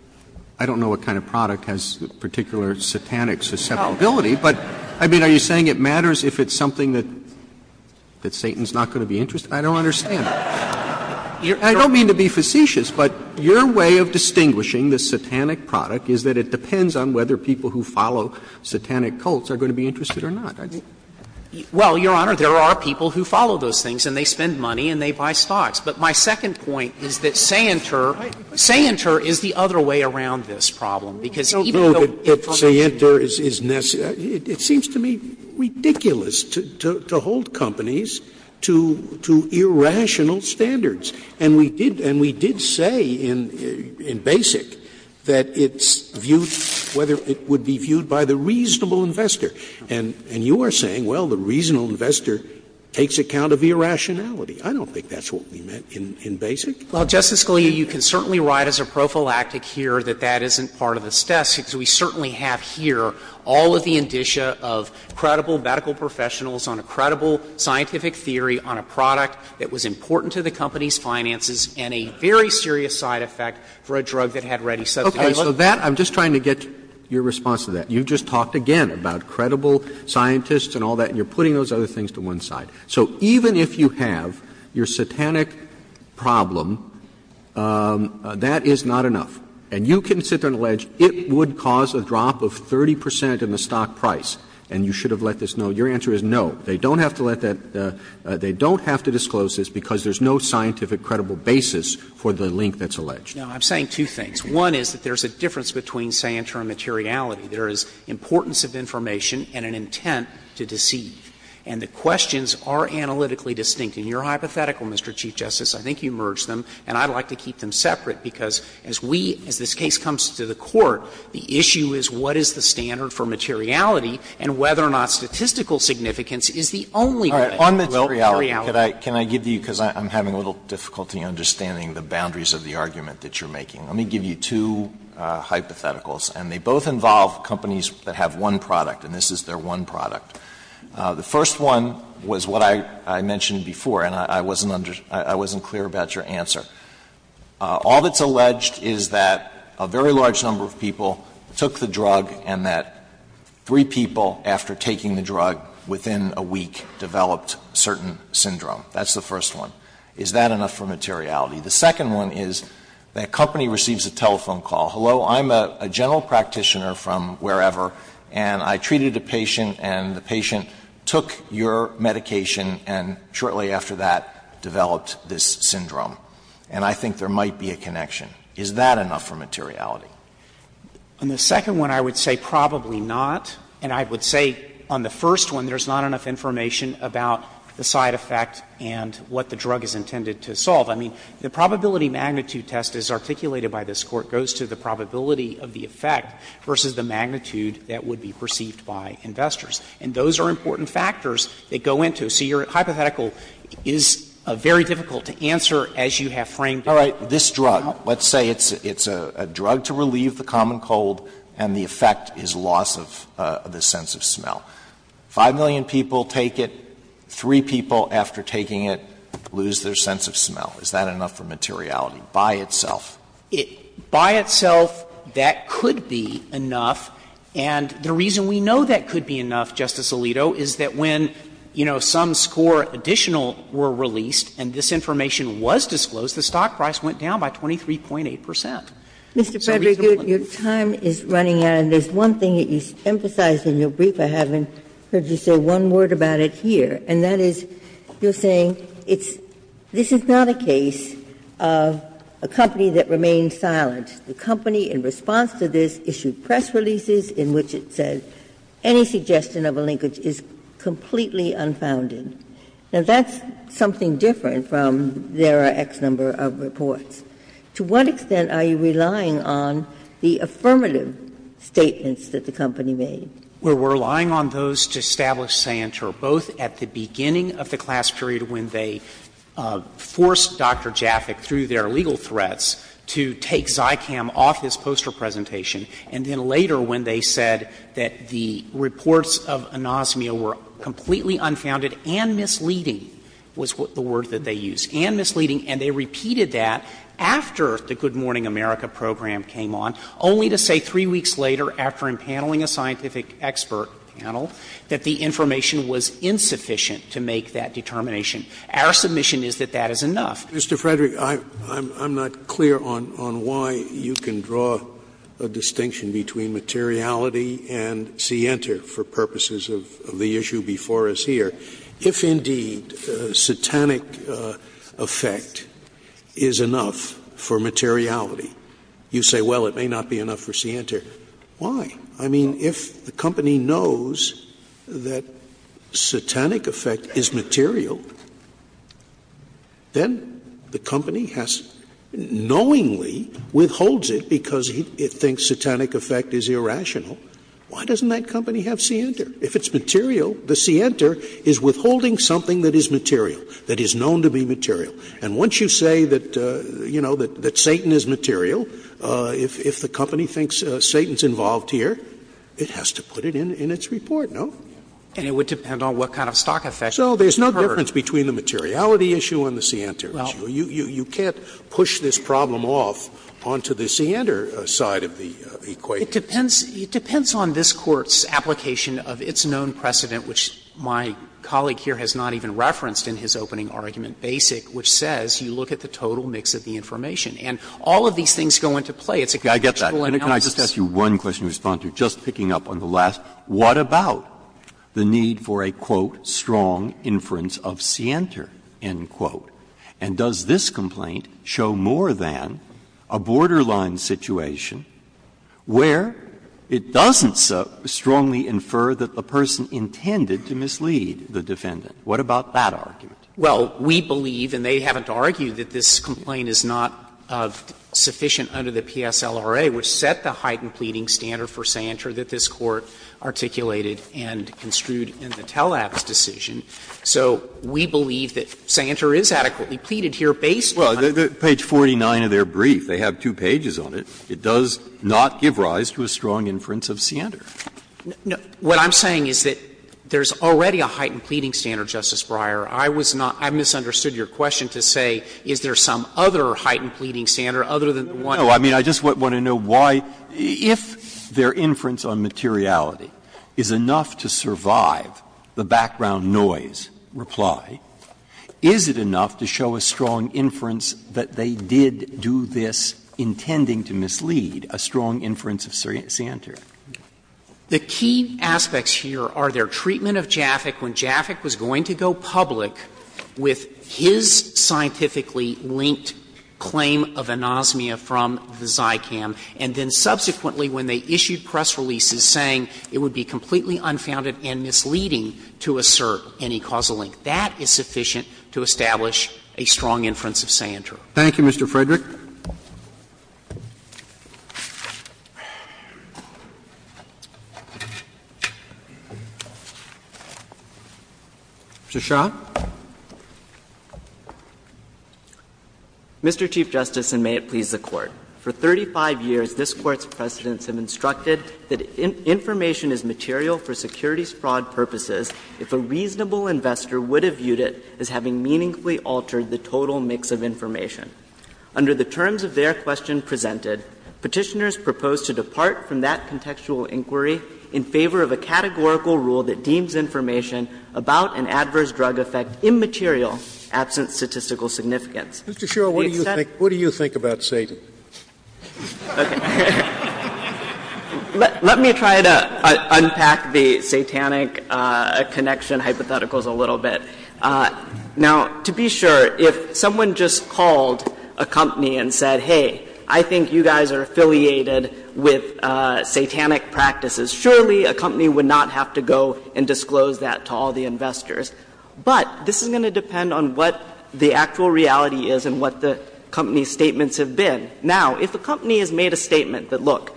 – I don't know what kind of product has the particular satanic susceptibility, but I mean, are you saying it matters if it's something that Satan's not going to be interested in? I don't understand. I don't mean to be facetious, but your way of distinguishing the satanic product is that it depends on whether people who follow satanic cults are going to be interested or not. I think. Well, Your Honor, there are people who follow those things and they spend money and they buy stocks. But my second point is that Sainter – Sainter is the other way around this problem, because even though information is necessary. It seems to me ridiculous to hold companies to irrational standards. And we did say in BASIC that it's viewed, whether it would be viewed by the reasonable investor. And you are saying, well, the reasonable investor takes account of irrationality. I don't think that's what we meant in BASIC. Well, Justice Scalia, you can certainly write as a prophylactic here that that isn't part of this test, because we certainly have here all of the indicia of credible medical professionals on a credible scientific theory on a product that was important to the company's finances and a very serious side effect for a drug that had ready substances. Roberts. So that, I'm just trying to get your response to that. You've just talked again about credible scientists and all that, and you're putting those other things to one side. So even if you have your satanic problem, that is not enough. And you can sit there and allege it would cause a drop of 30 percent in the stock price, and you should have let this know. Your answer is no. They don't have to let that – they don't have to disclose this because there's no scientific credible basis for the link that's alleged. Now, I'm saying two things. One is that there's a difference between say and term materiality. There is importance of information and an intent to deceive. And the questions are analytically distinct. In your hypothetical, Mr. Chief Justice, I think you merged them, and I'd like to keep them separate, because as we – as this case comes to the Court, the issue is what is the standard for materiality, and whether or not statistical significance is the only way. Alito, can I give you, because I'm having a little difficulty understanding the boundaries of the argument that you're making. Let me give you two hypotheticals, and they both involve companies that have one product, and this is their one product. The first one was what I mentioned before, and I wasn't clear about your answer. All that's alleged is that a very large number of people took the drug and that three people, after taking the drug, within a week, developed certain syndrome. That's the first one. Is that enough for materiality? The second one is that company receives a telephone call. Hello, I'm a general practitioner from wherever, and I treated a patient, and the patient took your medication, and shortly after that developed this syndrome. And I think there might be a connection. Is that enough for materiality? And the second one I would say probably not, and I would say on the first one there's not enough information about the side effect and what the drug is intended to solve. I mean, the probability magnitude test as articulated by this Court goes to the probability of the effect versus the magnitude that would be perceived by investors. And those are important factors that go into it. So your hypothetical is very difficult to answer as you have framed it. Alito, let's say it's a drug to relieve the common cold and the effect is loss of the sense of smell. 5 million people take it, three people after taking it lose their sense of smell. Is that enough for materiality by itself? By itself, that could be enough. And the reason we know that could be enough, Justice Alito, is that when, you know, some score additional were released and this information was disclosed, the stock price went down by 23.8 percent. So reasonably. Ginsburg. Your time is running out, and there's one thing that you emphasized in your brief. I haven't heard you say one word about it here, and that is you're saying it's – this is not a case of a company that remained silent. The company, in response to this, issued press releases in which it said any suggestion of a linkage is completely unfounded. Now, that's something different from there are X number of reports. To what extent are you relying on the affirmative statements that the company made? We're relying on those to establish sancture, both at the beginning of the class period when they forced Dr. Jaffick, through their legal threats, to take Zicam off his poster presentation, and then later when they said that the reports of anosmia were completely unfounded and misleading was the word that they used, and misleading, and they repeated that after the Good Morning America program came on, only to say three weeks later, after empaneling a scientific expert panel, that the information was insufficient to make that determination. Our submission is that that is enough. Mr. Frederick, I'm not clear on why you can draw a distinction between materiality and scienter for purposes of the issue before us here. If, indeed, satanic effect is enough for materiality, you say, well, it may not be enough for scienter. Why? I mean, if the company knows that satanic effect is material, then the company has knowingly withholds it because it thinks satanic effect is irrational. Why doesn't that company have scienter? If it's material, the scienter is withholding something that is material, that is known to be material. And once you say that, you know, that Satan is material, if the company thinks Satan is involved here, it has to put it in its report, no? And it would depend on what kind of stock effect occurred. So there's no difference between the materiality issue and the scienter issue. You can't push this problem off onto the scienter side of the equation. It depends on this Court's application of its known precedent, which my colleague here has not even referenced in his opening argument, Basic, which says you look at the total mix of the information, and all of these things go into play. It's a contextual analysis. Breyer. Can I just ask you one question to respond to, just picking up on the last, what about the need for a, quote, ''strong inference of scienter'', end quote, and does this complaint show more than a borderline situation where it doesn't so strongly infer that the person intended to mislead the defendant? What about that argument? Well, we believe, and they haven't argued, that this complaint is not sufficient under the PSLRA, which set the heightened pleading standard for scienter that this Court articulated and construed in the TELAPP's decision. So we believe that scienter is adequately pleaded here based on. Well, page 49 of their brief, they have two pages on it, it does not give rise to a strong inference of scienter. What I'm saying is that there's already a heightened pleading standard, Justice Breyer. I was not – I misunderstood your question to say is there some other heightened pleading standard other than the one. No. I mean, I just want to know why, if their inference on materiality is enough to survive the background noise reply, is it enough to show a strong inference that they did do this intending to mislead, a strong inference of scienter? The key aspects here are their treatment of Jaffic when Jaffic was going to go public with his scientifically linked claim of anosmia from the Zycam, and then subsequently when they issued press releases saying it would be completely unfounded and misleading to assert any causal link. That is sufficient to establish a strong inference of scienter. Thank you, Mr. Frederick. Mr. Shah. Mr. Chief Justice, and may it please the Court. For 35 years, this Court's precedents have instructed that information is material for securities fraud purposes if a reasonable investor would have viewed it as having meaningfully altered the total mix of information. Under the terms of their question presented, Petitioners propose to depart from that contextual inquiry in favor of a categorical rule that deems information about an adverse drug effect immaterial, absent statistical significance. Sotomayor, what do you think about Satan? Let me try to unpack the Satanic connection hypotheticals a little bit. Now, to be sure, if someone just called a company and said, hey, I think you guys are affiliated with Satanic practices, surely a company would not have to go and disclose that to all the investors. But this is going to depend on what the actual reality is and what the company's statements have been. Now, if a company has made a statement that, look,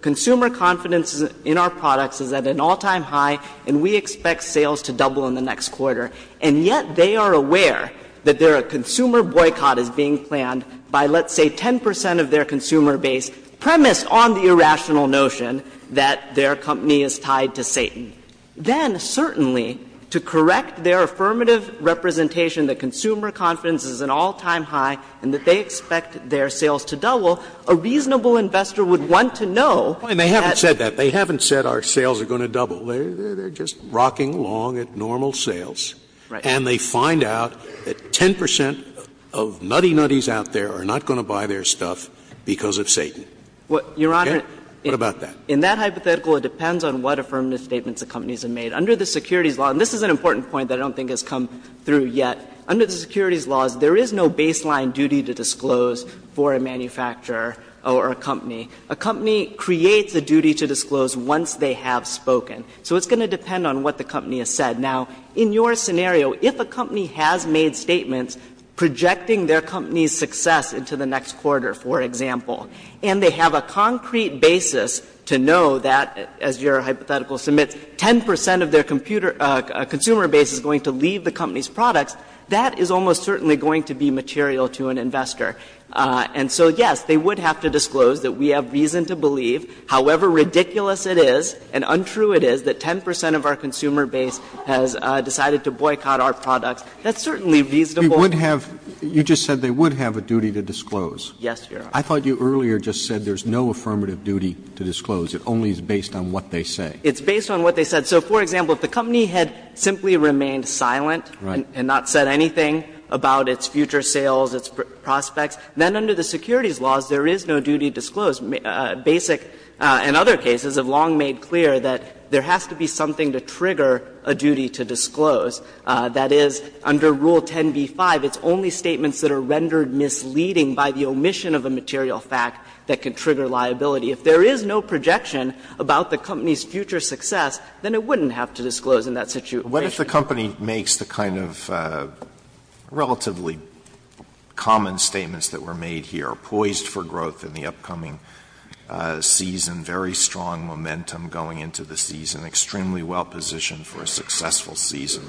consumer confidence in our products is at an all-time high and we expect sales to double in the next quarter, and yet they are aware that their consumer boycott is being planned by, let's say, 10 percent of their consumer base, premise on the irrational notion that their company is tied to Satan. Then, certainly, to correct their affirmative representation that consumer confidence is at an all-time high and that they expect their sales to double, a reasonable investor would want to know that. Scalia, they haven't said that. They haven't said our sales are going to double. They are just rocking along at normal sales. And they find out that 10 percent of nutty-nutties out there are not going to buy their stuff because of Satan. What about that? In that hypothetical, it depends on what affirmative statements the companies have made. Under the securities law, and this is an important point that I don't think has come through yet, under the securities laws, there is no baseline duty to disclose for a manufacturer or a company. A company creates a duty to disclose once they have spoken. So it's going to depend on what the company has said. Now, in your scenario, if a company has made statements projecting their company's success into the next quarter, for example, and they have a concrete basis to know that, as your hypothetical submits, 10 percent of their consumer base is going to leave the company's products, that is almost certainly going to be material to an investor. And so, yes, they would have to disclose that we have reason to believe, however ridiculous it is and untrue it is, that 10 percent of our consumer base has decided to boycott our products. That's certainly reasonable. Roberts. You just said they would have a duty to disclose. Yes, Your Honor. I thought you earlier just said there is no affirmative duty to disclose. It only is based on what they say. It's based on what they said. So, for example, if the company had simply remained silent and not said anything about its future sales, its prospects, then under the securities laws, there is no duty to disclose. Basic and other cases have long made clear that there has to be something to trigger a duty to disclose. That is, under Rule 10b-5, it's only statements that are rendered misleading by the omission of a material fact that can trigger liability. If there is no projection about the company's future success, then it wouldn't have to disclose in that situation. Alito, what if the company makes the kind of relatively common statements that were made here, poised for growth in the upcoming season, very strong momentum going into the season, extremely well positioned for a successful season?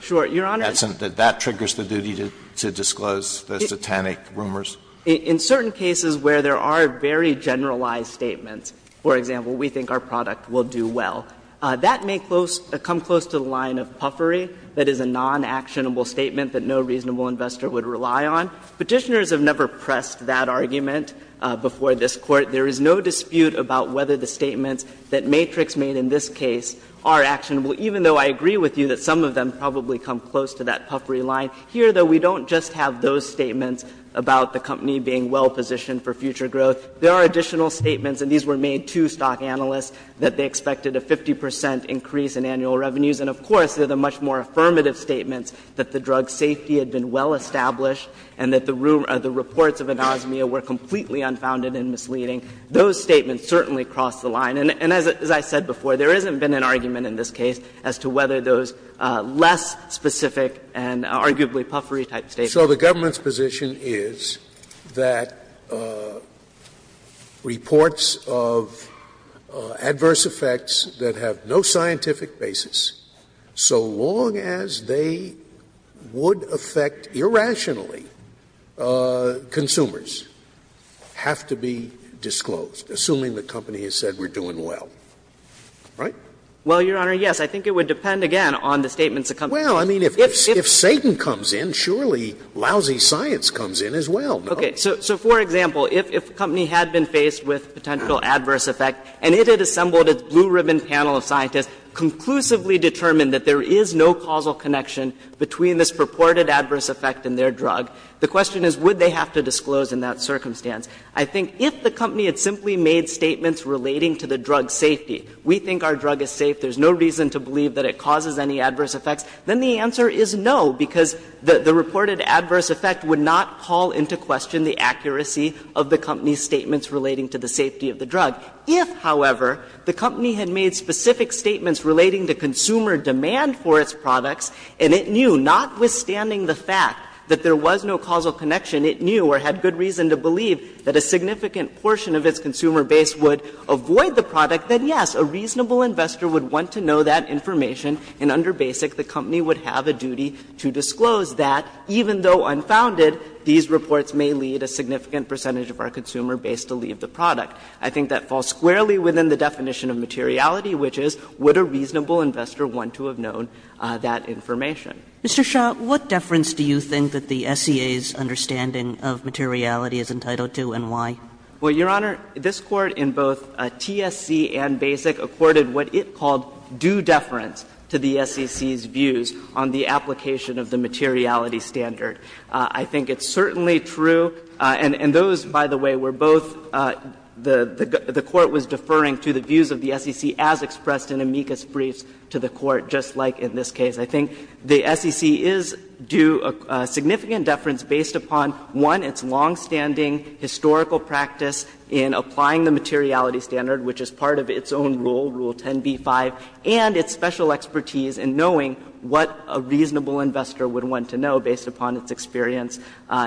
Sure. Your Honor. That triggers the duty to disclose those Titanic rumors? In certain cases where there are very generalized statements, for example, we think our product will do well. That may come close to the line of puffery, that is, a non-actionable statement that no reasonable investor would rely on. Petitioners have never pressed that argument before this Court. There is no dispute about whether the statements that Matrix made in this case are actionable, even though I agree with you that some of them probably come close to that puffery line. Here, though, we don't just have those statements about the company being well positioned for future growth. There are additional statements, and these were made to stock analysts, that they expected a 50 percent increase in annual revenues. And, of course, there are the much more affirmative statements that the drug safety had been well established and that the reports of anosmia were completely unfounded and misleading. Those statements certainly cross the line. And as I said before, there hasn't been an argument in this case as to whether those less specific and arguably puffery-type statements. Scalia, so the government's position is that reports of adverse effects that have no scientific basis, so long as they would affect irrationally consumers, have to be disclosed, assuming the company has said we're doing well, right? Well, Your Honor, yes. I think it would depend, again, on the statements of companies. Well, I mean, if Satan comes in, surely lousy science comes in as well, no? Okay. So for example, if a company had been faced with potential adverse effect and it had assembled its blue-ribbon panel of scientists, conclusively determined that there is no causal connection between this purported adverse effect and their drug, the question is would they have to disclose in that circumstance. I think if the company had simply made statements relating to the drug safety, we think our drug is safe, there's no reason to believe that it causes any adverse effects, then the answer is no, because the reported adverse effect would not call into question the accuracy of the company's statements relating to the safety of the drug. If, however, the company had made specific statements relating to consumer demand for its products and it knew, notwithstanding the fact that there was no causal connection, it knew or had good reason to believe that a significant portion of its consumer base would avoid the product, then yes, a reasonable investor would want to know that information, and under BASIC, the company would have a duty to disclose that, even though unfounded, these reports may lead a significant percentage of our consumer base to leave the product. I think that falls squarely within the definition of materiality, which is would a reasonable investor want to have known that information. Kagan. Mr. Shah, what deference do you think that the SEA's understanding of materiality is entitled to and why? Well, Your Honor, this Court in both TSC and BASIC accorded what it called due deference to the SEC's views on the application of the materiality standard. I think it's certainly true, and those, by the way, were both the Court was deferring to the views of the SEC as expressed in amicus briefs to the Court, just like in this case. I think the SEC is due a significant deference based upon, one, its longstanding historical practice in applying the materiality standard, which is part of its own rule, Rule 10b-5, and its special expertise in knowing what a reasonable investor would want to know based upon its experience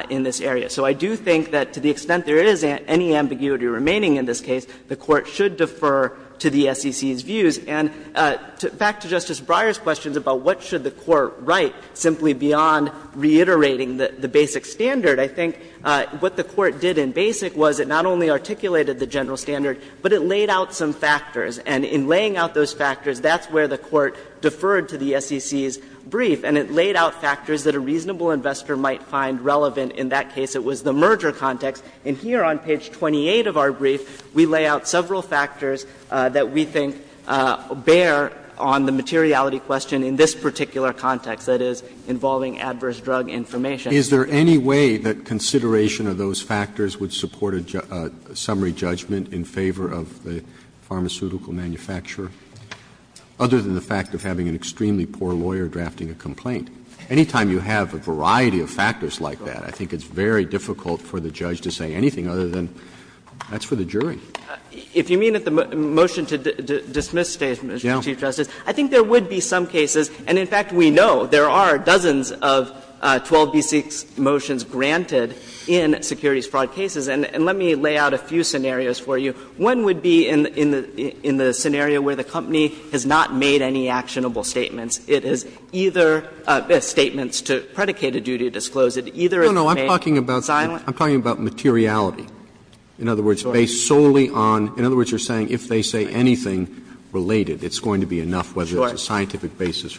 in this area. So I do think that to the extent there is any ambiguity remaining in this case, the Court should defer to the SEC's views. And back to Justice Breyer's questions about what should the Court write simply beyond reiterating the BASIC standard, I think what the Court did in BASIC was it not only articulated the general standard, but it laid out some factors. And in laying out those factors, that's where the Court deferred to the SEC's brief, and it laid out factors that a reasonable investor might find relevant in that case. It was the merger context. And here on page 28 of our brief, we lay out several factors that we think bear on the materiality question in this particular context, that is, involving adverse drug information. Roberts, is there any way that consideration of those factors would support a summary judgment in favor of the pharmaceutical manufacturer, other than the fact of having an extremely poor lawyer drafting a complaint? Any time you have a variety of factors like that, I think it's very difficult for the judge to say anything other than that's for the jury. If you mean at the motion to dismiss, Mr. Chief Justice, I think there would be some And, in fact, we know there are dozens of 12b-6 motions granted in securities fraud cases. And let me lay out a few scenarios for you. One would be in the scenario where the company has not made any actionable statements. It has either statements to predicate a duty to disclose, it either has made silent No, no, I'm talking about materiality, in other words, based solely on, in other cases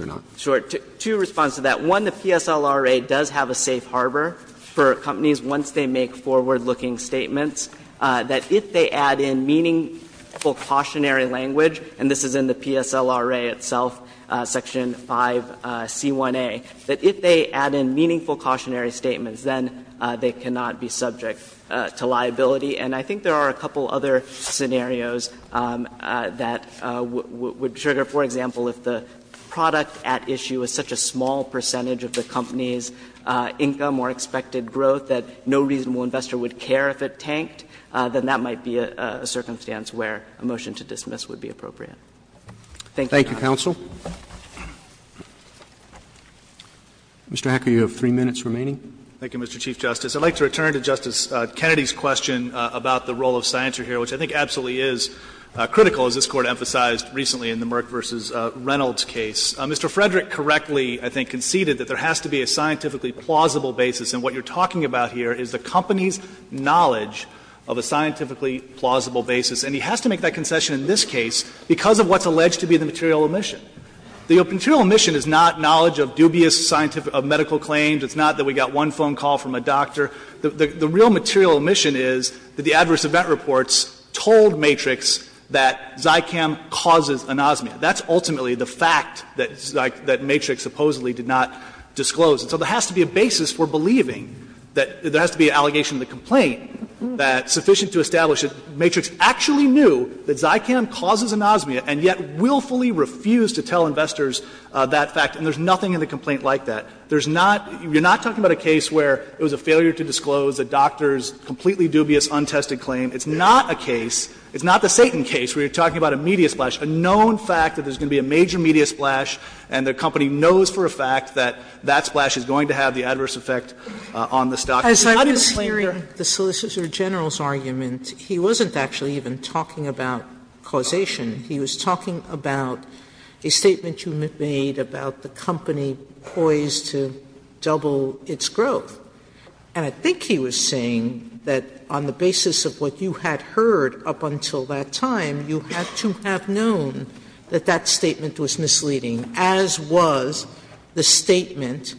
or not. Sure. Two responses to that. One, the PSLRA does have a safe harbor for companies, once they make forward-looking statements, that if they add in meaningful cautionary language, and this is in the PSLRA itself, section 5c1a, that if they add in meaningful cautionary statements, then they cannot be subject to liability. And I think there are a couple other scenarios that would trigger, for example, if the product at issue is such a small percentage of the company's income or expected growth that no reasonable investor would care if it tanked, then that might be a circumstance where a motion to dismiss would be appropriate. Thank you, Your Honor. Roberts, Mr. Hacker, you have three minutes remaining. Hacker, thank you, Mr. Chief Justice. I'd like to return to Justice Kennedy's question about the role of scienter here, which I think absolutely is critical, as this Court emphasized recently in the Merck v. Reynolds case. Mr. Frederick correctly, I think, conceded that there has to be a scientifically plausible basis, and what you're talking about here is the company's knowledge of a scientifically plausible basis. And he has to make that concession in this case because of what's alleged to be the material omission. The material omission is not knowledge of dubious scientific or medical claims. It's not that we got one phone call from a doctor. The real material omission is that the adverse event reports told Matrix that Zykam causes anosmia. That's ultimately the fact that Matrix supposedly did not disclose. And so there has to be a basis for believing that there has to be an allegation to the complaint that's sufficient to establish that Matrix actually knew that Zykam causes anosmia and yet willfully refused to tell investors that fact, and there's nothing in the complaint like that. There's not you're not talking about a case where it was a failure to disclose a doctor's completely dubious untested claim. It's not a case, it's not the Satan case, where you're talking about a media splash, a known fact that there's going to be a major media splash and the company knows for a fact that that splash is going to have the adverse effect on the stock. Sotomayor, Your Honor, as I was hearing the Solicitor General's argument, he wasn't actually even talking about causation. He was talking about a statement you made about the company poised to double its growth. And I think he was saying that on the basis of what you had heard up until that time, you had to have known that that statement was misleading, as was the statement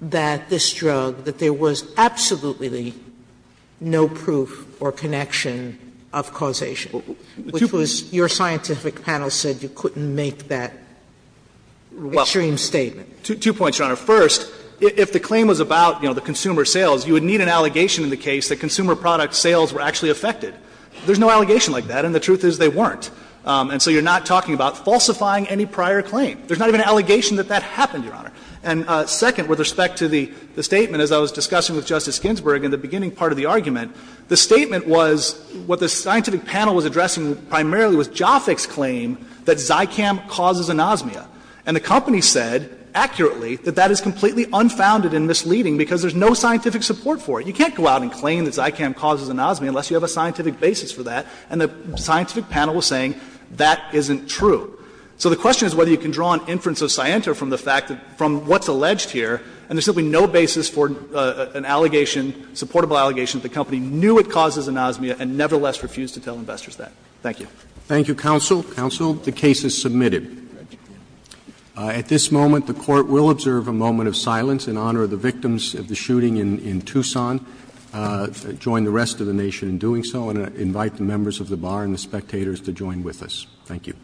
that this drug, that there was absolutely no proof or connection of causation, which was your scientific panel said you couldn't make that extreme statement. Two points, Your Honor. First, if the claim was about, you know, the consumer sales, you would need an allegation in the case that consumer product sales were actually affected. There's no allegation like that, and the truth is they weren't. And so you're not talking about falsifying any prior claim. There's not even an allegation that that happened, Your Honor. And second, with respect to the statement, as I was discussing with Justice Ginsburg in the beginning part of the argument, the statement was what the scientific panel was addressing primarily was Jafik's claim that Zycam causes anosmia. And the company said accurately that that is completely unfounded and misleading because there's no scientific support for it. You can't go out and claim that Zycam causes anosmia unless you have a scientific basis for that, and the scientific panel was saying that isn't true. So the question is whether you can draw an inference of scienta from the fact that from what's alleged here, and there's simply no basis for an allegation, a supportable allegation that the company knew it causes anosmia and nevertheless refused to tell investors that. Thank you. Roberts. Thank you, counsel. Counsel, the case is submitted. At this moment, the court will observe a moment of silence in honor of the victims of the shooting in Tucson, join the rest of the nation in doing so, and invite the members of the bar and the spectators to join with us. Thank you.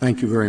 Thank you very much.